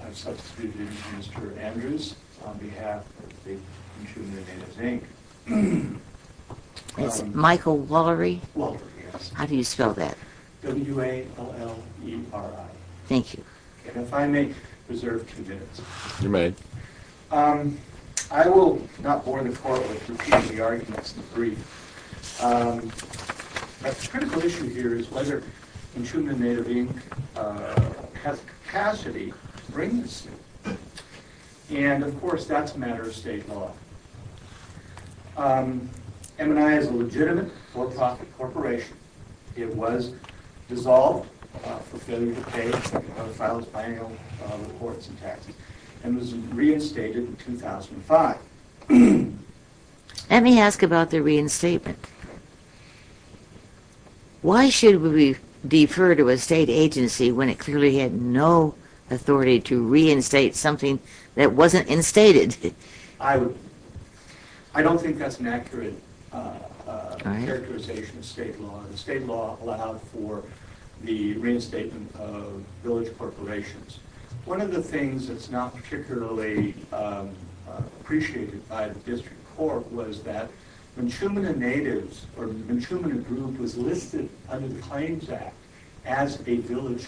I'm substituting Mr. Andrews on behalf of the Mnchumina Natives, Inc. It's Michael Wollery? Wollery, yes. How do you spell that? W-A-L-L-E-R-I. Thank you. And if I may reserve two minutes. I will not bore the Court with repeating the arguments in the brief. A critical issue here is whether Mnchumina Natives, Inc. has the capacity to bring this to you. And, of course, that's a matter of state law. MNI is a legitimate for-profit corporation. It was dissolved for failure to pay the files by annual reports and taxes and was reinstated in 2005. Let me ask about the reinstatement. Why should we defer to a state agency when it clearly had no authority to reinstate something that wasn't instated? I don't think that's an accurate characterization of state law. The state law allowed for the reinstatement of village corporations. One of the things that's not particularly appreciated by the District Court was that Mnchumina Natives, or the Mnchumina group, was listed under the Claims Act as a village.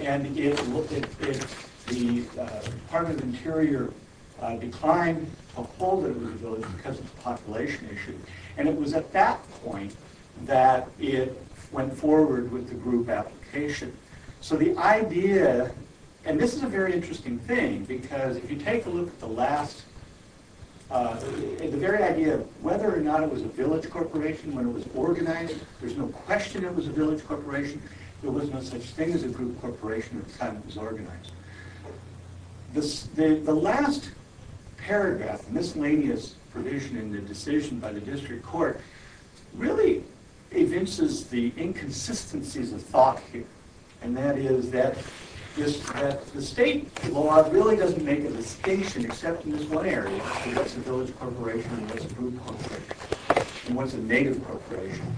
And it looked as if the Department of Interior declined to uphold it as a village because of the population issue. And it was at that point that it went forward with the group application. And this is a very interesting thing because if you take a look at the very idea of whether or not it was a village corporation when it was organized, there's no question it was a village corporation. There was no such thing as a group corporation at the time it was organized. The last paragraph, miscellaneous provision in the decision by the District Court, really evinces the inconsistencies of thought here. And that is that the state law really doesn't make a distinction except in this one area. What's a village corporation and what's a group corporation? And what's a native corporation?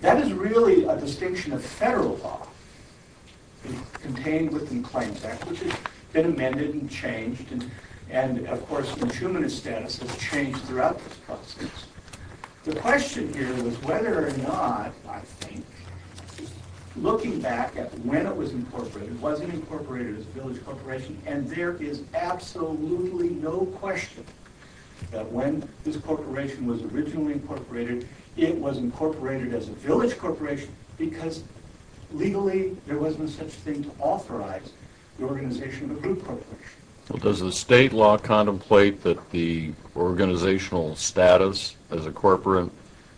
That is really a distinction of federal law contained within the Claims Act, which has been amended and changed. And, of course, Mnchumina's status has changed throughout this process. The question here was whether or not, I think, looking back at when it was incorporated, it wasn't incorporated as a village corporation. And there is absolutely no question that when this corporation was originally incorporated, it was incorporated as a village corporation because legally there wasn't such thing to authorize the organization of a group corporation. Well, does the state law contemplate that the organizational status as a corporate,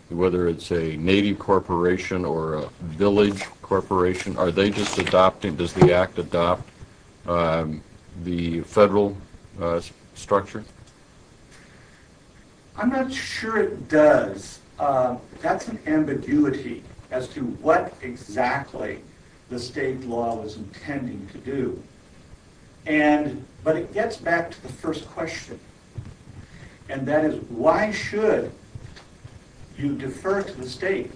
whether it's a native corporation or a village corporation, are they just adopting, does the Act adopt the federal structure? I'm not sure it does. That's an ambiguity as to what exactly the state law is intending to do. But it gets back to the first question, and that is why should you defer to the state?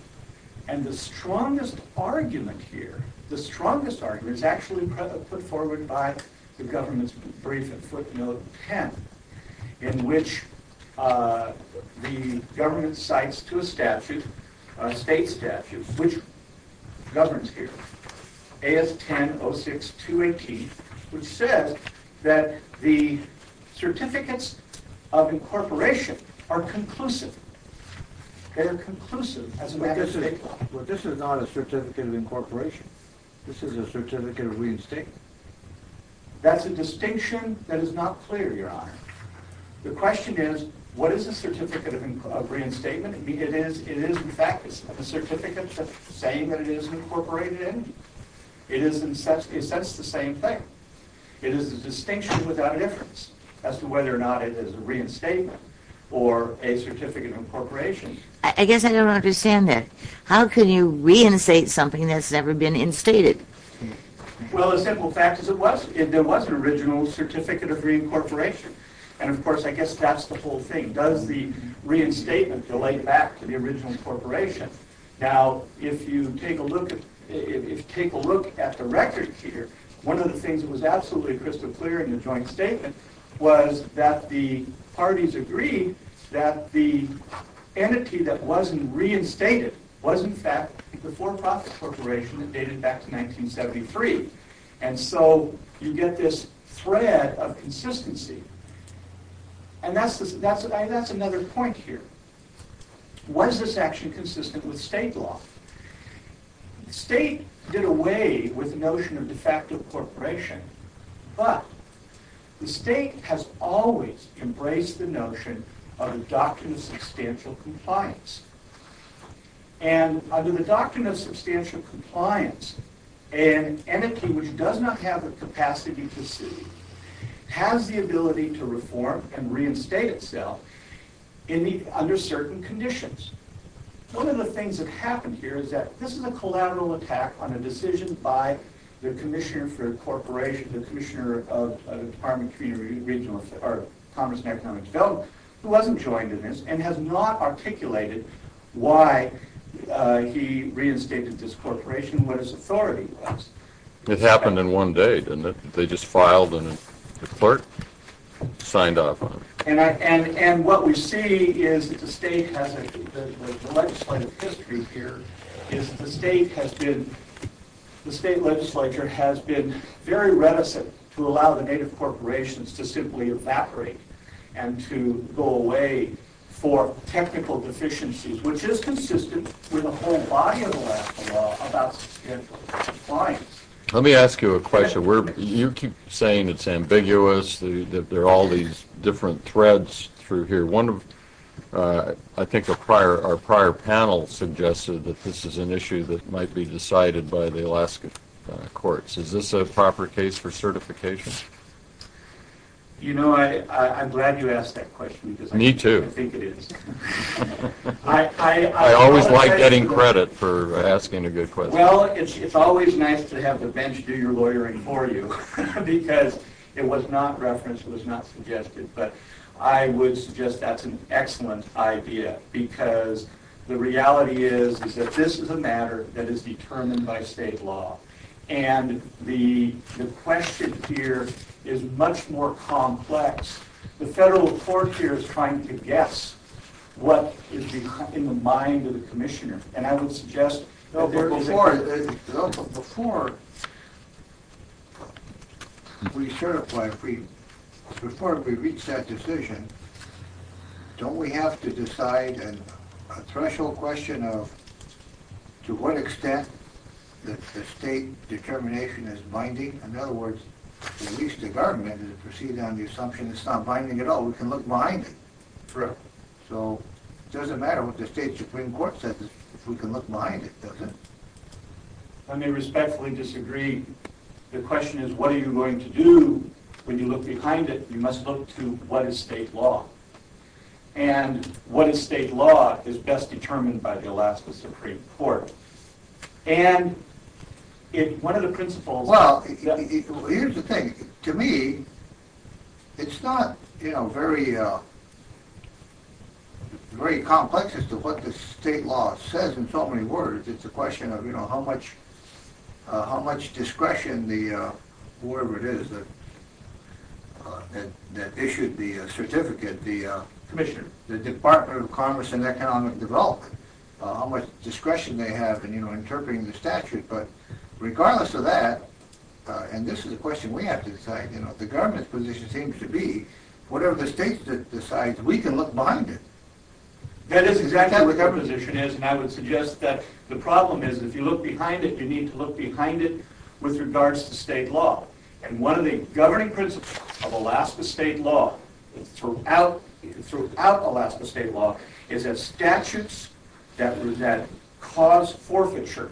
And the strongest argument here, the strongest argument is actually put forward by the government's brief in footnote 10, in which the government cites to a statute, a state statute, which governs here, AS 10-06-218, which says that the certificates of incorporation are conclusive. They are conclusive as a matter of state law. But this is not a certificate of incorporation. This is a certificate of reinstatement. That's a distinction that is not clear, Your Honor. The question is, what is a certificate of reinstatement? It is, in fact, a certificate saying that it is incorporated in. It is, in a sense, the same thing. It is a distinction without a difference as to whether or not it is a reinstatement or a certificate of incorporation. I guess I don't understand that. How can you reinstate something that's never been instated? Well, as simple a fact as it was, there was an original certificate of reincorporation. And, of course, I guess that's the whole thing. Does the reinstatement delay back to the original incorporation? Now, if you take a look at the record here, one of the things that was absolutely crystal clear in the joint statement was that the parties agreed that the entity that wasn't reinstated was, in fact, the for-profit corporation that dated back to 1973. And so you get this thread of consistency. And that's another point here. Was this action consistent with state law? The state did away with the notion of de facto incorporation, but the state has always embraced the notion of the doctrine of substantial compliance. And under the doctrine of substantial compliance, an entity which does not have the capacity to sue has the ability to reform and reinstate itself under certain conditions. One of the things that happened here is that this is a collateral attack on a decision by the commissioner of the Department of Commerce and Economic Development, who wasn't joined in this, and has not articulated why he reinstated this corporation and what his authority was. It happened in one day, didn't it? They just filed and the clerk signed off on it. And what we see is that the state has a legislative history here. The state legislature has been very reticent to allow the native corporations to simply evaporate and to go away for technical deficiencies, which is consistent with the whole body of the last law about substantial compliance. Let me ask you a question. You keep saying it's ambiguous, that there are all these different threads through here. I think our prior panel suggested that this is an issue that might be decided by the Alaska courts. Is this a proper case for certification? You know, I'm glad you asked that question because I think it is. Me too. I always like getting credit for asking a good question. Well, it's always nice to have the bench do your lawyering for you because it was not referenced, it was not suggested. But I would suggest that's an excellent idea because the reality is that this is a matter that is determined by state law. And the question here is much more complex. The federal court here is trying to guess what is in the mind of the commissioner. Before we reach that decision, don't we have to decide a threshold question of to what extent the state determination is binding? In other words, at least the government is proceeding on the assumption it's not binding at all. We can look behind it. Correct. So, it doesn't matter what the state supreme court says if we can look behind it, does it? I may respectfully disagree. The question is what are you going to do when you look behind it? You must look to what is state law. And what is state law is best determined by the Alaska Supreme Court. Well, here's the thing. To me, it's not very complex as to what the state law says in so many words. It's a question of how much discretion whoever it is that issued the certificate, the commissioner, the Department of Commerce and Economic Development, how much discretion they have in interpreting the statute. But regardless of that, and this is a question we have to decide, the government's position seems to be whatever the state decides, we can look behind it. That is exactly what our position is. And I would suggest that the problem is if you look behind it, you need to look behind it with regards to state law. And one of the governing principles of Alaska state law, throughout Alaska state law, is that statutes that cause forfeiture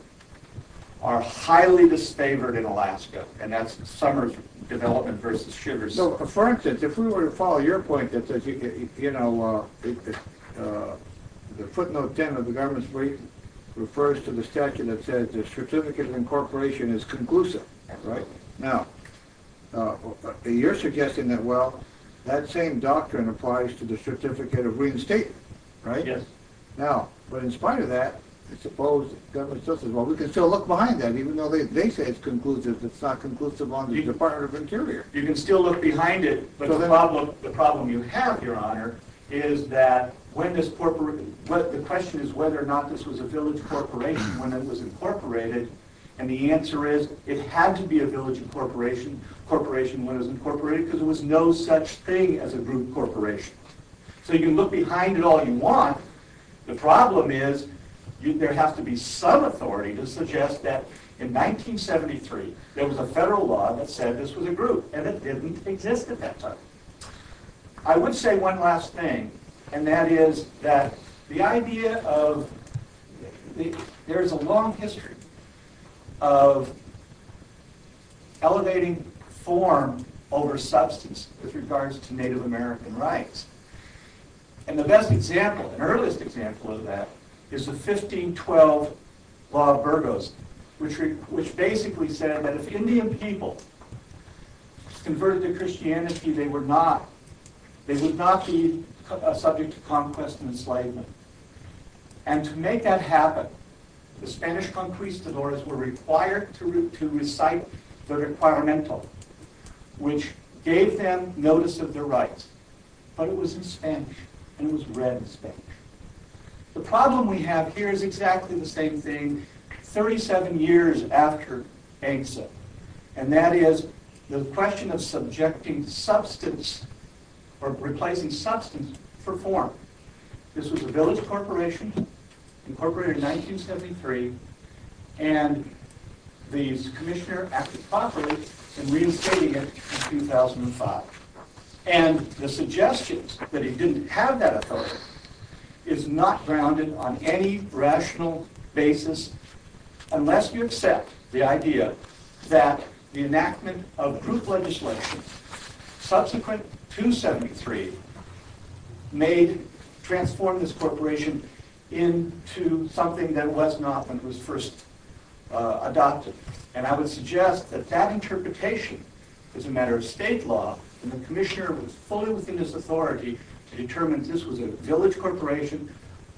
are highly disfavored in Alaska. And that's Summers' development versus Sugar's. So, for instance, if we were to follow your point that says, you know, the footnote 10 of the government's brief refers to the statute that says the certificate of incorporation is conclusive, right? Now, you're suggesting that, well, that same doctrine applies to the certificate of reinstatement, right? Yes. Now, but in spite of that, I suppose the government still says, well, we can still look behind that, even though they say it's conclusive, it's not conclusive on the Department of Interior. You can still look behind it, but the problem you have, Your Honor, is that the question is whether or not this was a village corporation when it was incorporated. And the answer is it had to be a village corporation when it was incorporated because there was no such thing as a group corporation. So you can look behind it all you want. The problem is there has to be some authority to suggest that in 1973 there was a federal law that said this was a group, and it didn't exist at that time. I would say one last thing, and that is that the idea of – there is a long history of elevating form over substance with regards to Native American rights. And the best example, the earliest example of that, is the 1512 Law of Burgos, which basically said that if Indian people converted to Christianity, they would not. They would not be subject to conquest and enslavement. And to make that happen, the Spanish conquistadors were required to recite the Requiremental, which gave them notice of their rights. But it was in Spanish, and it was read in Spanish. The problem we have here is exactly the same thing 37 years after EGSA, and that is the question of subjecting substance or replacing substance for form. This was a village corporation incorporated in 1973, and the commissioner acted properly in reinstating it in 2005. And the suggestion that it didn't have that authority is not grounded on any rational basis unless you accept the idea that the enactment of group legislation subsequent to 1973 transformed this corporation into something that it was not when it was first adopted. And I would suggest that that interpretation is a matter of state law, and the commissioner was fully within his authority to determine that this was a village corporation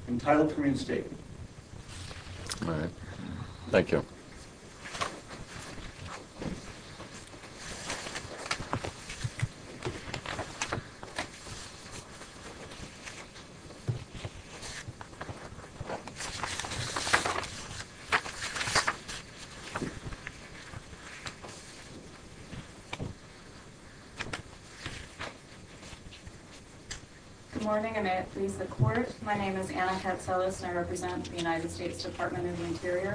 entitled to reinstate it. All right. Thank you. Good morning, and may it please the court. My name is Anna Katselis, and I represent the United States Department of the Interior.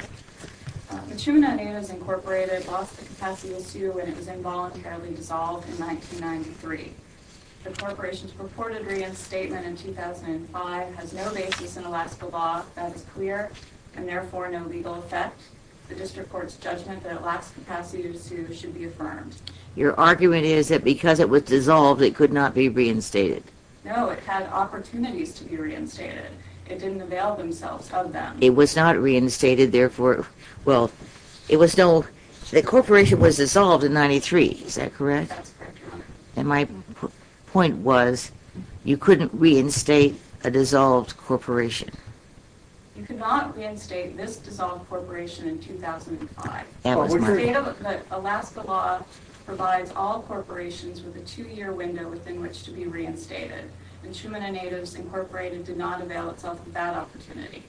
The Chumana Inn is incorporated, lost the capacity this year when it was involuntarily dissolved in 1993. The corporation's purported reinstatement in 2005 has no basis in Alaska law, that is clear, and therefore no legal effect. The district court's judgment that it lacks capacity to sue should be affirmed. Your argument is that because it was dissolved, it could not be reinstated. No, it had opportunities to be reinstated. It didn't avail themselves of them. It was not reinstated, therefore, well, it was no, the corporation was dissolved in 93, is that correct? That's correct, Your Honor. And my point was, you couldn't reinstate a dissolved corporation. You could not reinstate this dissolved corporation in 2005. Alaska law provides all corporations with a two-year window within which to be reinstated. And Chumana Natives Incorporated did not avail itself of that opportunity.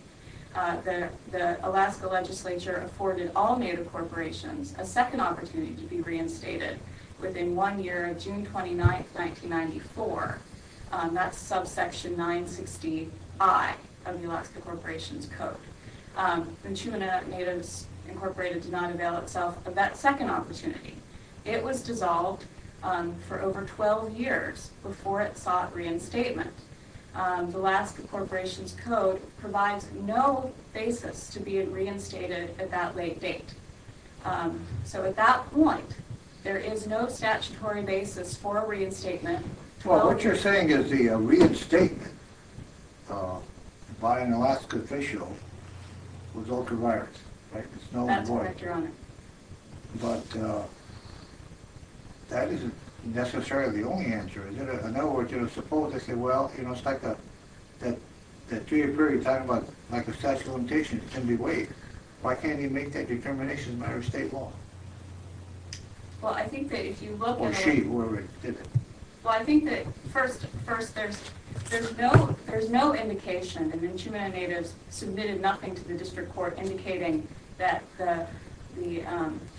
The Alaska legislature afforded all native corporations a second opportunity to be reinstated within one year, June 29, 1994. That's subsection 960I of the Alaska Corporation's Code. And Chumana Natives Incorporated did not avail itself of that second opportunity. It was dissolved for over 12 years before it sought reinstatement. The Alaska Corporation's Code provides no basis to be reinstated at that late date. So at that point, there is no statutory basis for reinstatement. Well, what you're saying is the reinstatement by an Alaska official was ultraviolet, right? That's correct, Your Honor. But that isn't necessarily the only answer, is it? In other words, you know, suppose they say, well, you know, it's like that three-year period, we're talking about, like, a statute of limitations, it can be waived. Why can't you make that determination as a matter of state law? Well, I think that if you look at it— Or she, whoever did it. Well, I think that, first, there's no indication that the Chumana Natives submitted nothing to the district court indicating that the—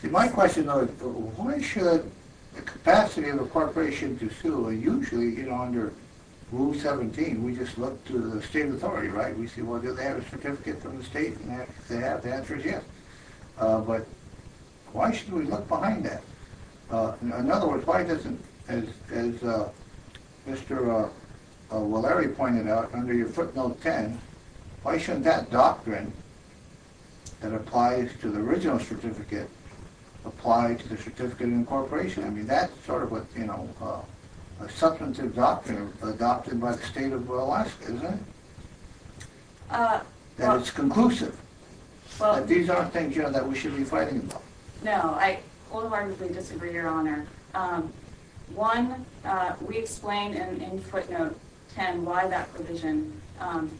See, my question, though, is why should the capacity of the corporation to sue, usually, you know, under Rule 17, we just look to the state authority, right? We see, well, do they have a certificate from the state? If they have, the answer is yes. But why should we look behind that? In other words, why doesn't, as Mr. O'Leary pointed out, under your footnote 10, why shouldn't that doctrine that applies to the original certificate apply to the certificate in the corporation? I mean, that's sort of what, you know, a substantive doctrine adopted by the state of Alaska, isn't it? That it's conclusive. These aren't things, you know, that we should be fighting about. No, I wholeheartedly disagree, Your Honor. One, we explained in footnote 10 why that provision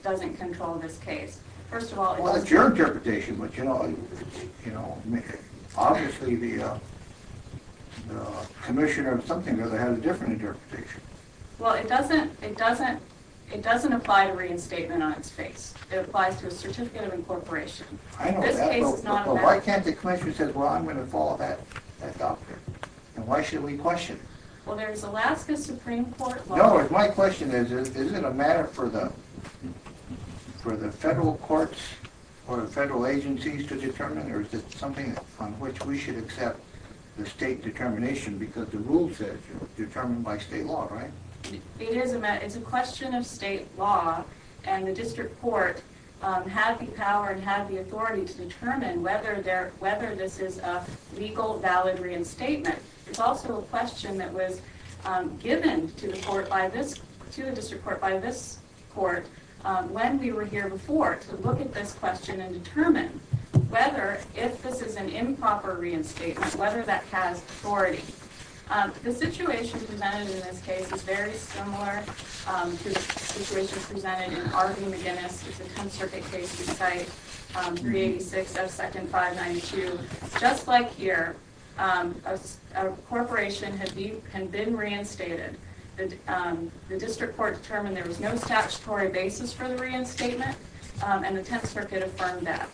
doesn't control this case. First of all— Well, it doesn't—it doesn't—it doesn't apply to reinstatement on its face. It applies to a certificate of incorporation. I know that, but why can't the commission say, well, I'm going to follow that doctrine? And why should we question? Well, there's Alaska Supreme Court law— No, my question is, is it a matter for the federal courts or the federal agencies to determine, or is it something on which we should accept the state determination because the rule says determined by state law, right? It is a matter—it's a question of state law, and the district court had the power and had the authority to determine whether there—whether this is a legal, valid reinstatement. It's also a question that was given to the court by this—to the district court by this court when we were here before to look at this question and determine whether, if this is an improper reinstatement, whether that has authority. The situation presented in this case is very similar to the situation presented in R v. McGinnis. It's a 10th Circuit case. We cite 386 F 2nd 592. Just like here, a corporation had been—had been reinstated. The district court determined there was no statutory basis for the reinstatement, and the 10th Circuit affirmed that.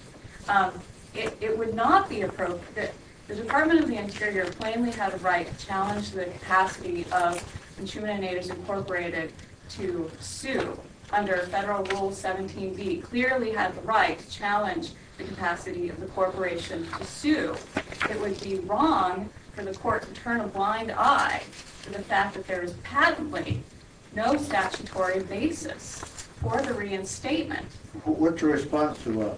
It would not be appropriate—the Department of the Interior plainly had a right to challenge the capacity of Intrument and Aiders Incorporated to sue under Federal Rule 17b, clearly had the right to challenge the capacity of the corporation to sue. It would be wrong for the court to turn a blind eye to the fact that there is patently no statutory basis for the reinstatement. What's your response to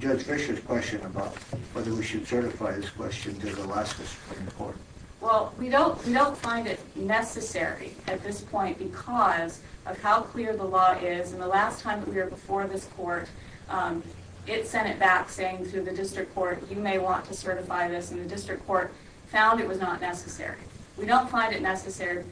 Judge Fischer's question about whether we should certify this question to the last district court? Well, we don't—we don't find it necessary at this point because of how clear the law is. And the last time that we were before this court, it sent it back saying to the district court, you may want to certify this, and the district court found it was not necessary. We don't find it necessary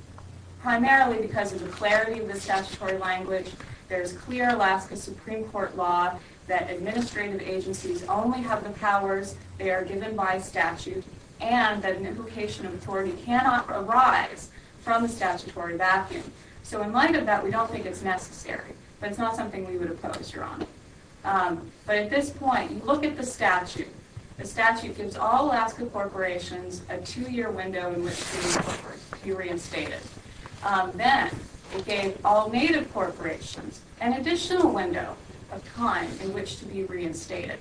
primarily because of the clarity of the statutory language. There is clear Alaska Supreme Court law that administrative agencies only have the powers they are given by statute and that an implication of authority cannot arise from the statutory vacuum. So in light of that, we don't think it's necessary, but it's not something we would oppose, Your Honor. But at this point, you look at the statute. The statute gives all Alaska corporations a two-year window in which to be reinstated. Then it gave all native corporations an additional window of time in which to be reinstated.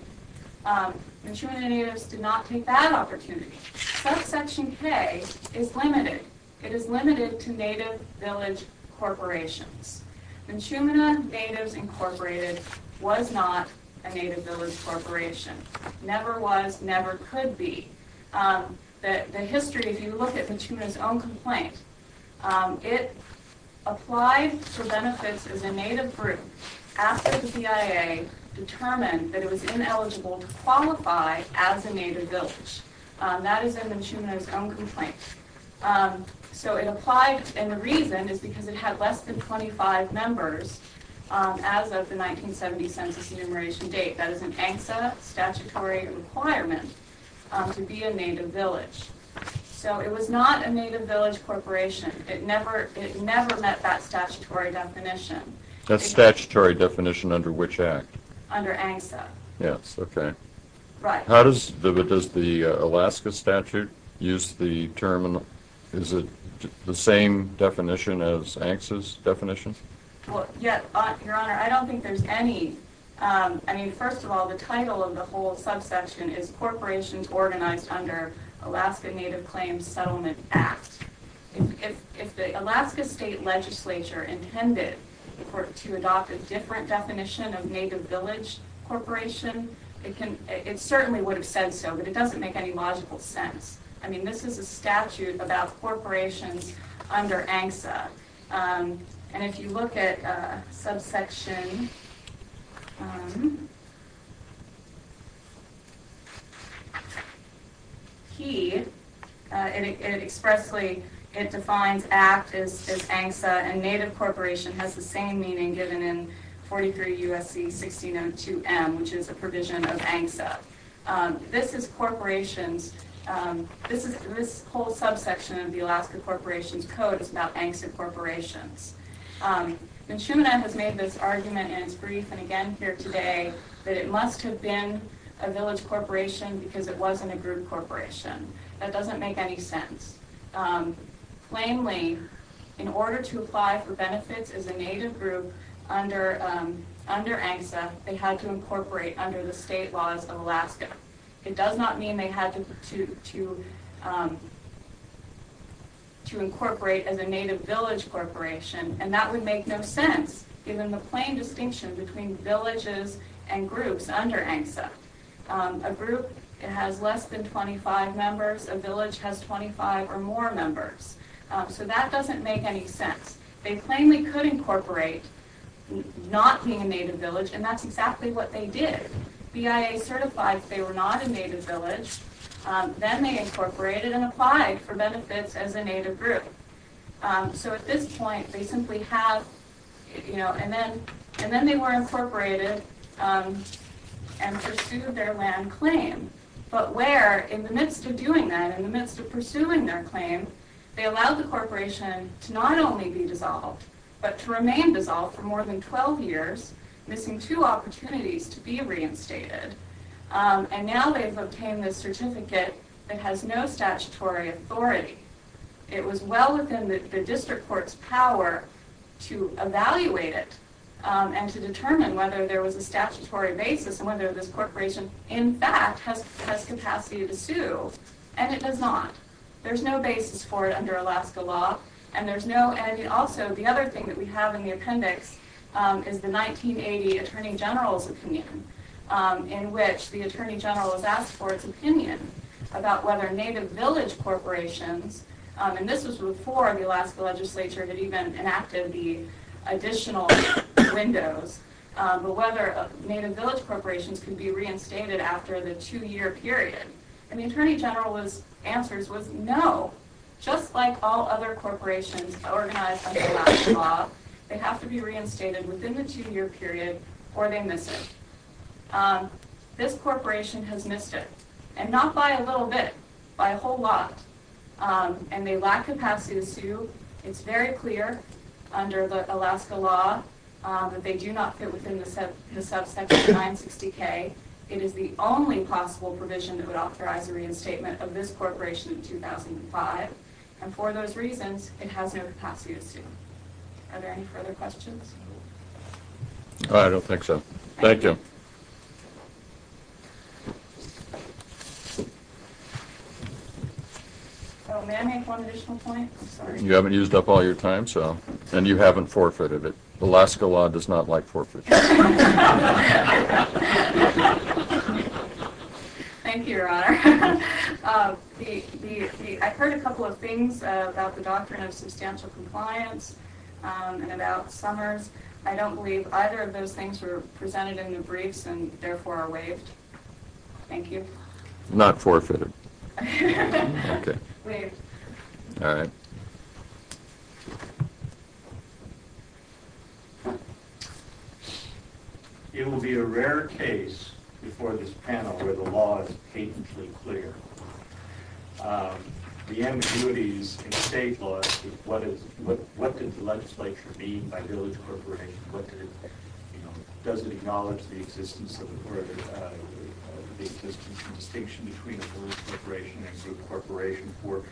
Intrument and Aiders did not take that opportunity. But Section K is limited. It is limited to native village corporations. Mechumena Natives Incorporated was not a native village corporation. Never was, never could be. The history, if you look at Mechumena's own complaint, it applied for benefits as a native group after the BIA determined that it was ineligible to qualify as a native village. That is in Mechumena's own complaint. So it applied, and the reason is because it had less than 25 members as of the 1970 census enumeration date. That is an ANSA statutory requirement to be a native village. So it was not a native village corporation. It never met that statutory definition. That statutory definition under which act? Under ANSA. Yes, okay. Right. How does the Alaska statute use the term? Is it the same definition as ANSA's definition? Well, yes, Your Honor. I don't think there's any. I mean, first of all, the title of the whole subsection is Corporations Organized Under Alaska Native Claims Settlement Act. If the Alaska State Legislature intended to adopt a different definition of native village corporation, it certainly would have said so, but it doesn't make any logical sense. I mean, this is a statute about corporations under ANSA, and if you look at subsection P, it expressly defines act as ANSA, and native corporation has the same meaning given in 43 U.S.C. 1602M, which is a provision of ANSA. This is corporations. This whole subsection of the Alaska Corporations Code is about ANSA corporations. And Schumann has made this argument in his brief and again here today that it must have been a village corporation because it wasn't a group corporation. That doesn't make any sense. Plainly, in order to apply for benefits as a native group under ANSA, they had to incorporate under the state laws of Alaska. It does not mean they had to incorporate as a native village corporation, and that would make no sense given the plain distinction between villages and groups under ANSA. A group has less than 25 members. A village has 25 or more members. So that doesn't make any sense. They plainly could incorporate not being a native village, and that's exactly what they did. BIA certified they were not a native village. Then they incorporated and applied for benefits as a native group. So at this point, they simply have, you know, and then they were incorporated and pursued their land claim. But where, in the midst of doing that, in the midst of pursuing their claim, they allowed the corporation to not only be dissolved but to remain dissolved for more than 12 years, missing two opportunities to be reinstated. And now they've obtained this certificate that has no statutory authority. It was well within the district court's power to evaluate it and to determine whether there was a statutory basis and whether this corporation in fact has capacity to sue, and it does not. There's no basis for it under Alaska law, and there's no, and also the other thing that we have in the appendix is the 1980 attorney general's opinion in which the attorney general has asked for its opinion about whether native village corporations, and this was before the Alaska legislature had even enacted the additional windows, but whether native village corporations could be reinstated after the two-year period. And the attorney general's answer was no. Just like all other corporations organized under Alaska law, they have to be reinstated within the two-year period or they miss it. This corporation has missed it, and not by a little bit, by a whole lot, and they lack capacity to sue. It's very clear under the Alaska law that they do not fit within the subsection 960K. It is the only possible provision that would authorize a reinstatement of this corporation in 2005, and for those reasons it has no capacity to sue. Are there any further questions? I don't think so. Thank you. May I make one additional point? I'm sorry. You haven't used up all your time, and you haven't forfeited it. Alaska law does not like forfeits. Thank you, Your Honor. I've heard a couple of things about the doctrine of substantial compliance and about Summers. I don't believe either of those things were presented in the briefs and therefore are waived. Thank you. Not forfeited. Waived. All right. It will be a rare case before this panel where the law is patently clear. The ambiguities in state law, what did the legislature mean by village corporation? Does it acknowledge the existence of a distinction between a village corporation and a corporation for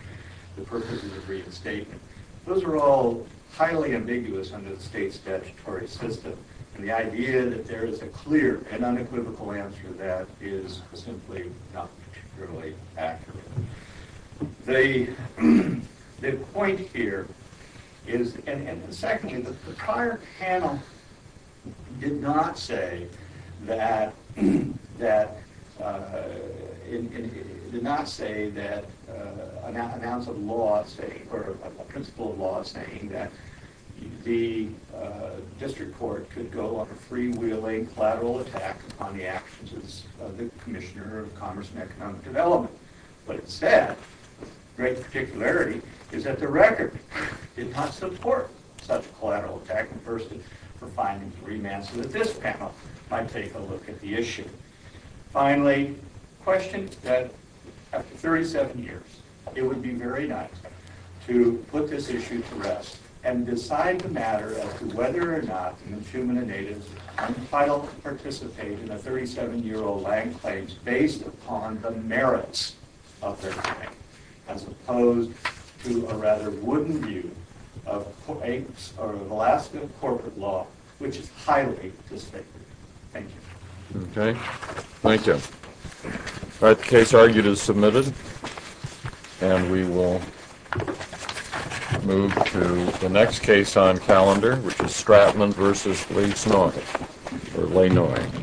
the purposes of reinstatement? Those are all highly ambiguous under the state's statutory system, and the idea that there is a clear and unequivocal answer to that is simply not particularly accurate. The point here is, and secondly, the prior panel did not say that, did not announce a law saying, or a principle of law saying, that the district court could go on a freewheeling collateral attack upon the actions of the Commissioner of Commerce and Economic Development. What it said, with great particularity, is that the record did not support such a collateral attack, and furthest it from finding a remand so that this panel might take a look at the issue. Finally, the question is that, after 37 years, it would be very nice to put this issue to rest and decide the matter as to whether or not it is unfit to participate in a 37-year-old land claims based upon the merits of their claim, as opposed to a rather wooden view of Alaska corporate law, which is highly disfavored. Thank you. Okay, thank you. All right, the case argued is submitted, and we will move to the next case on calendar, which is Stratman v. Leinoy. Thank you.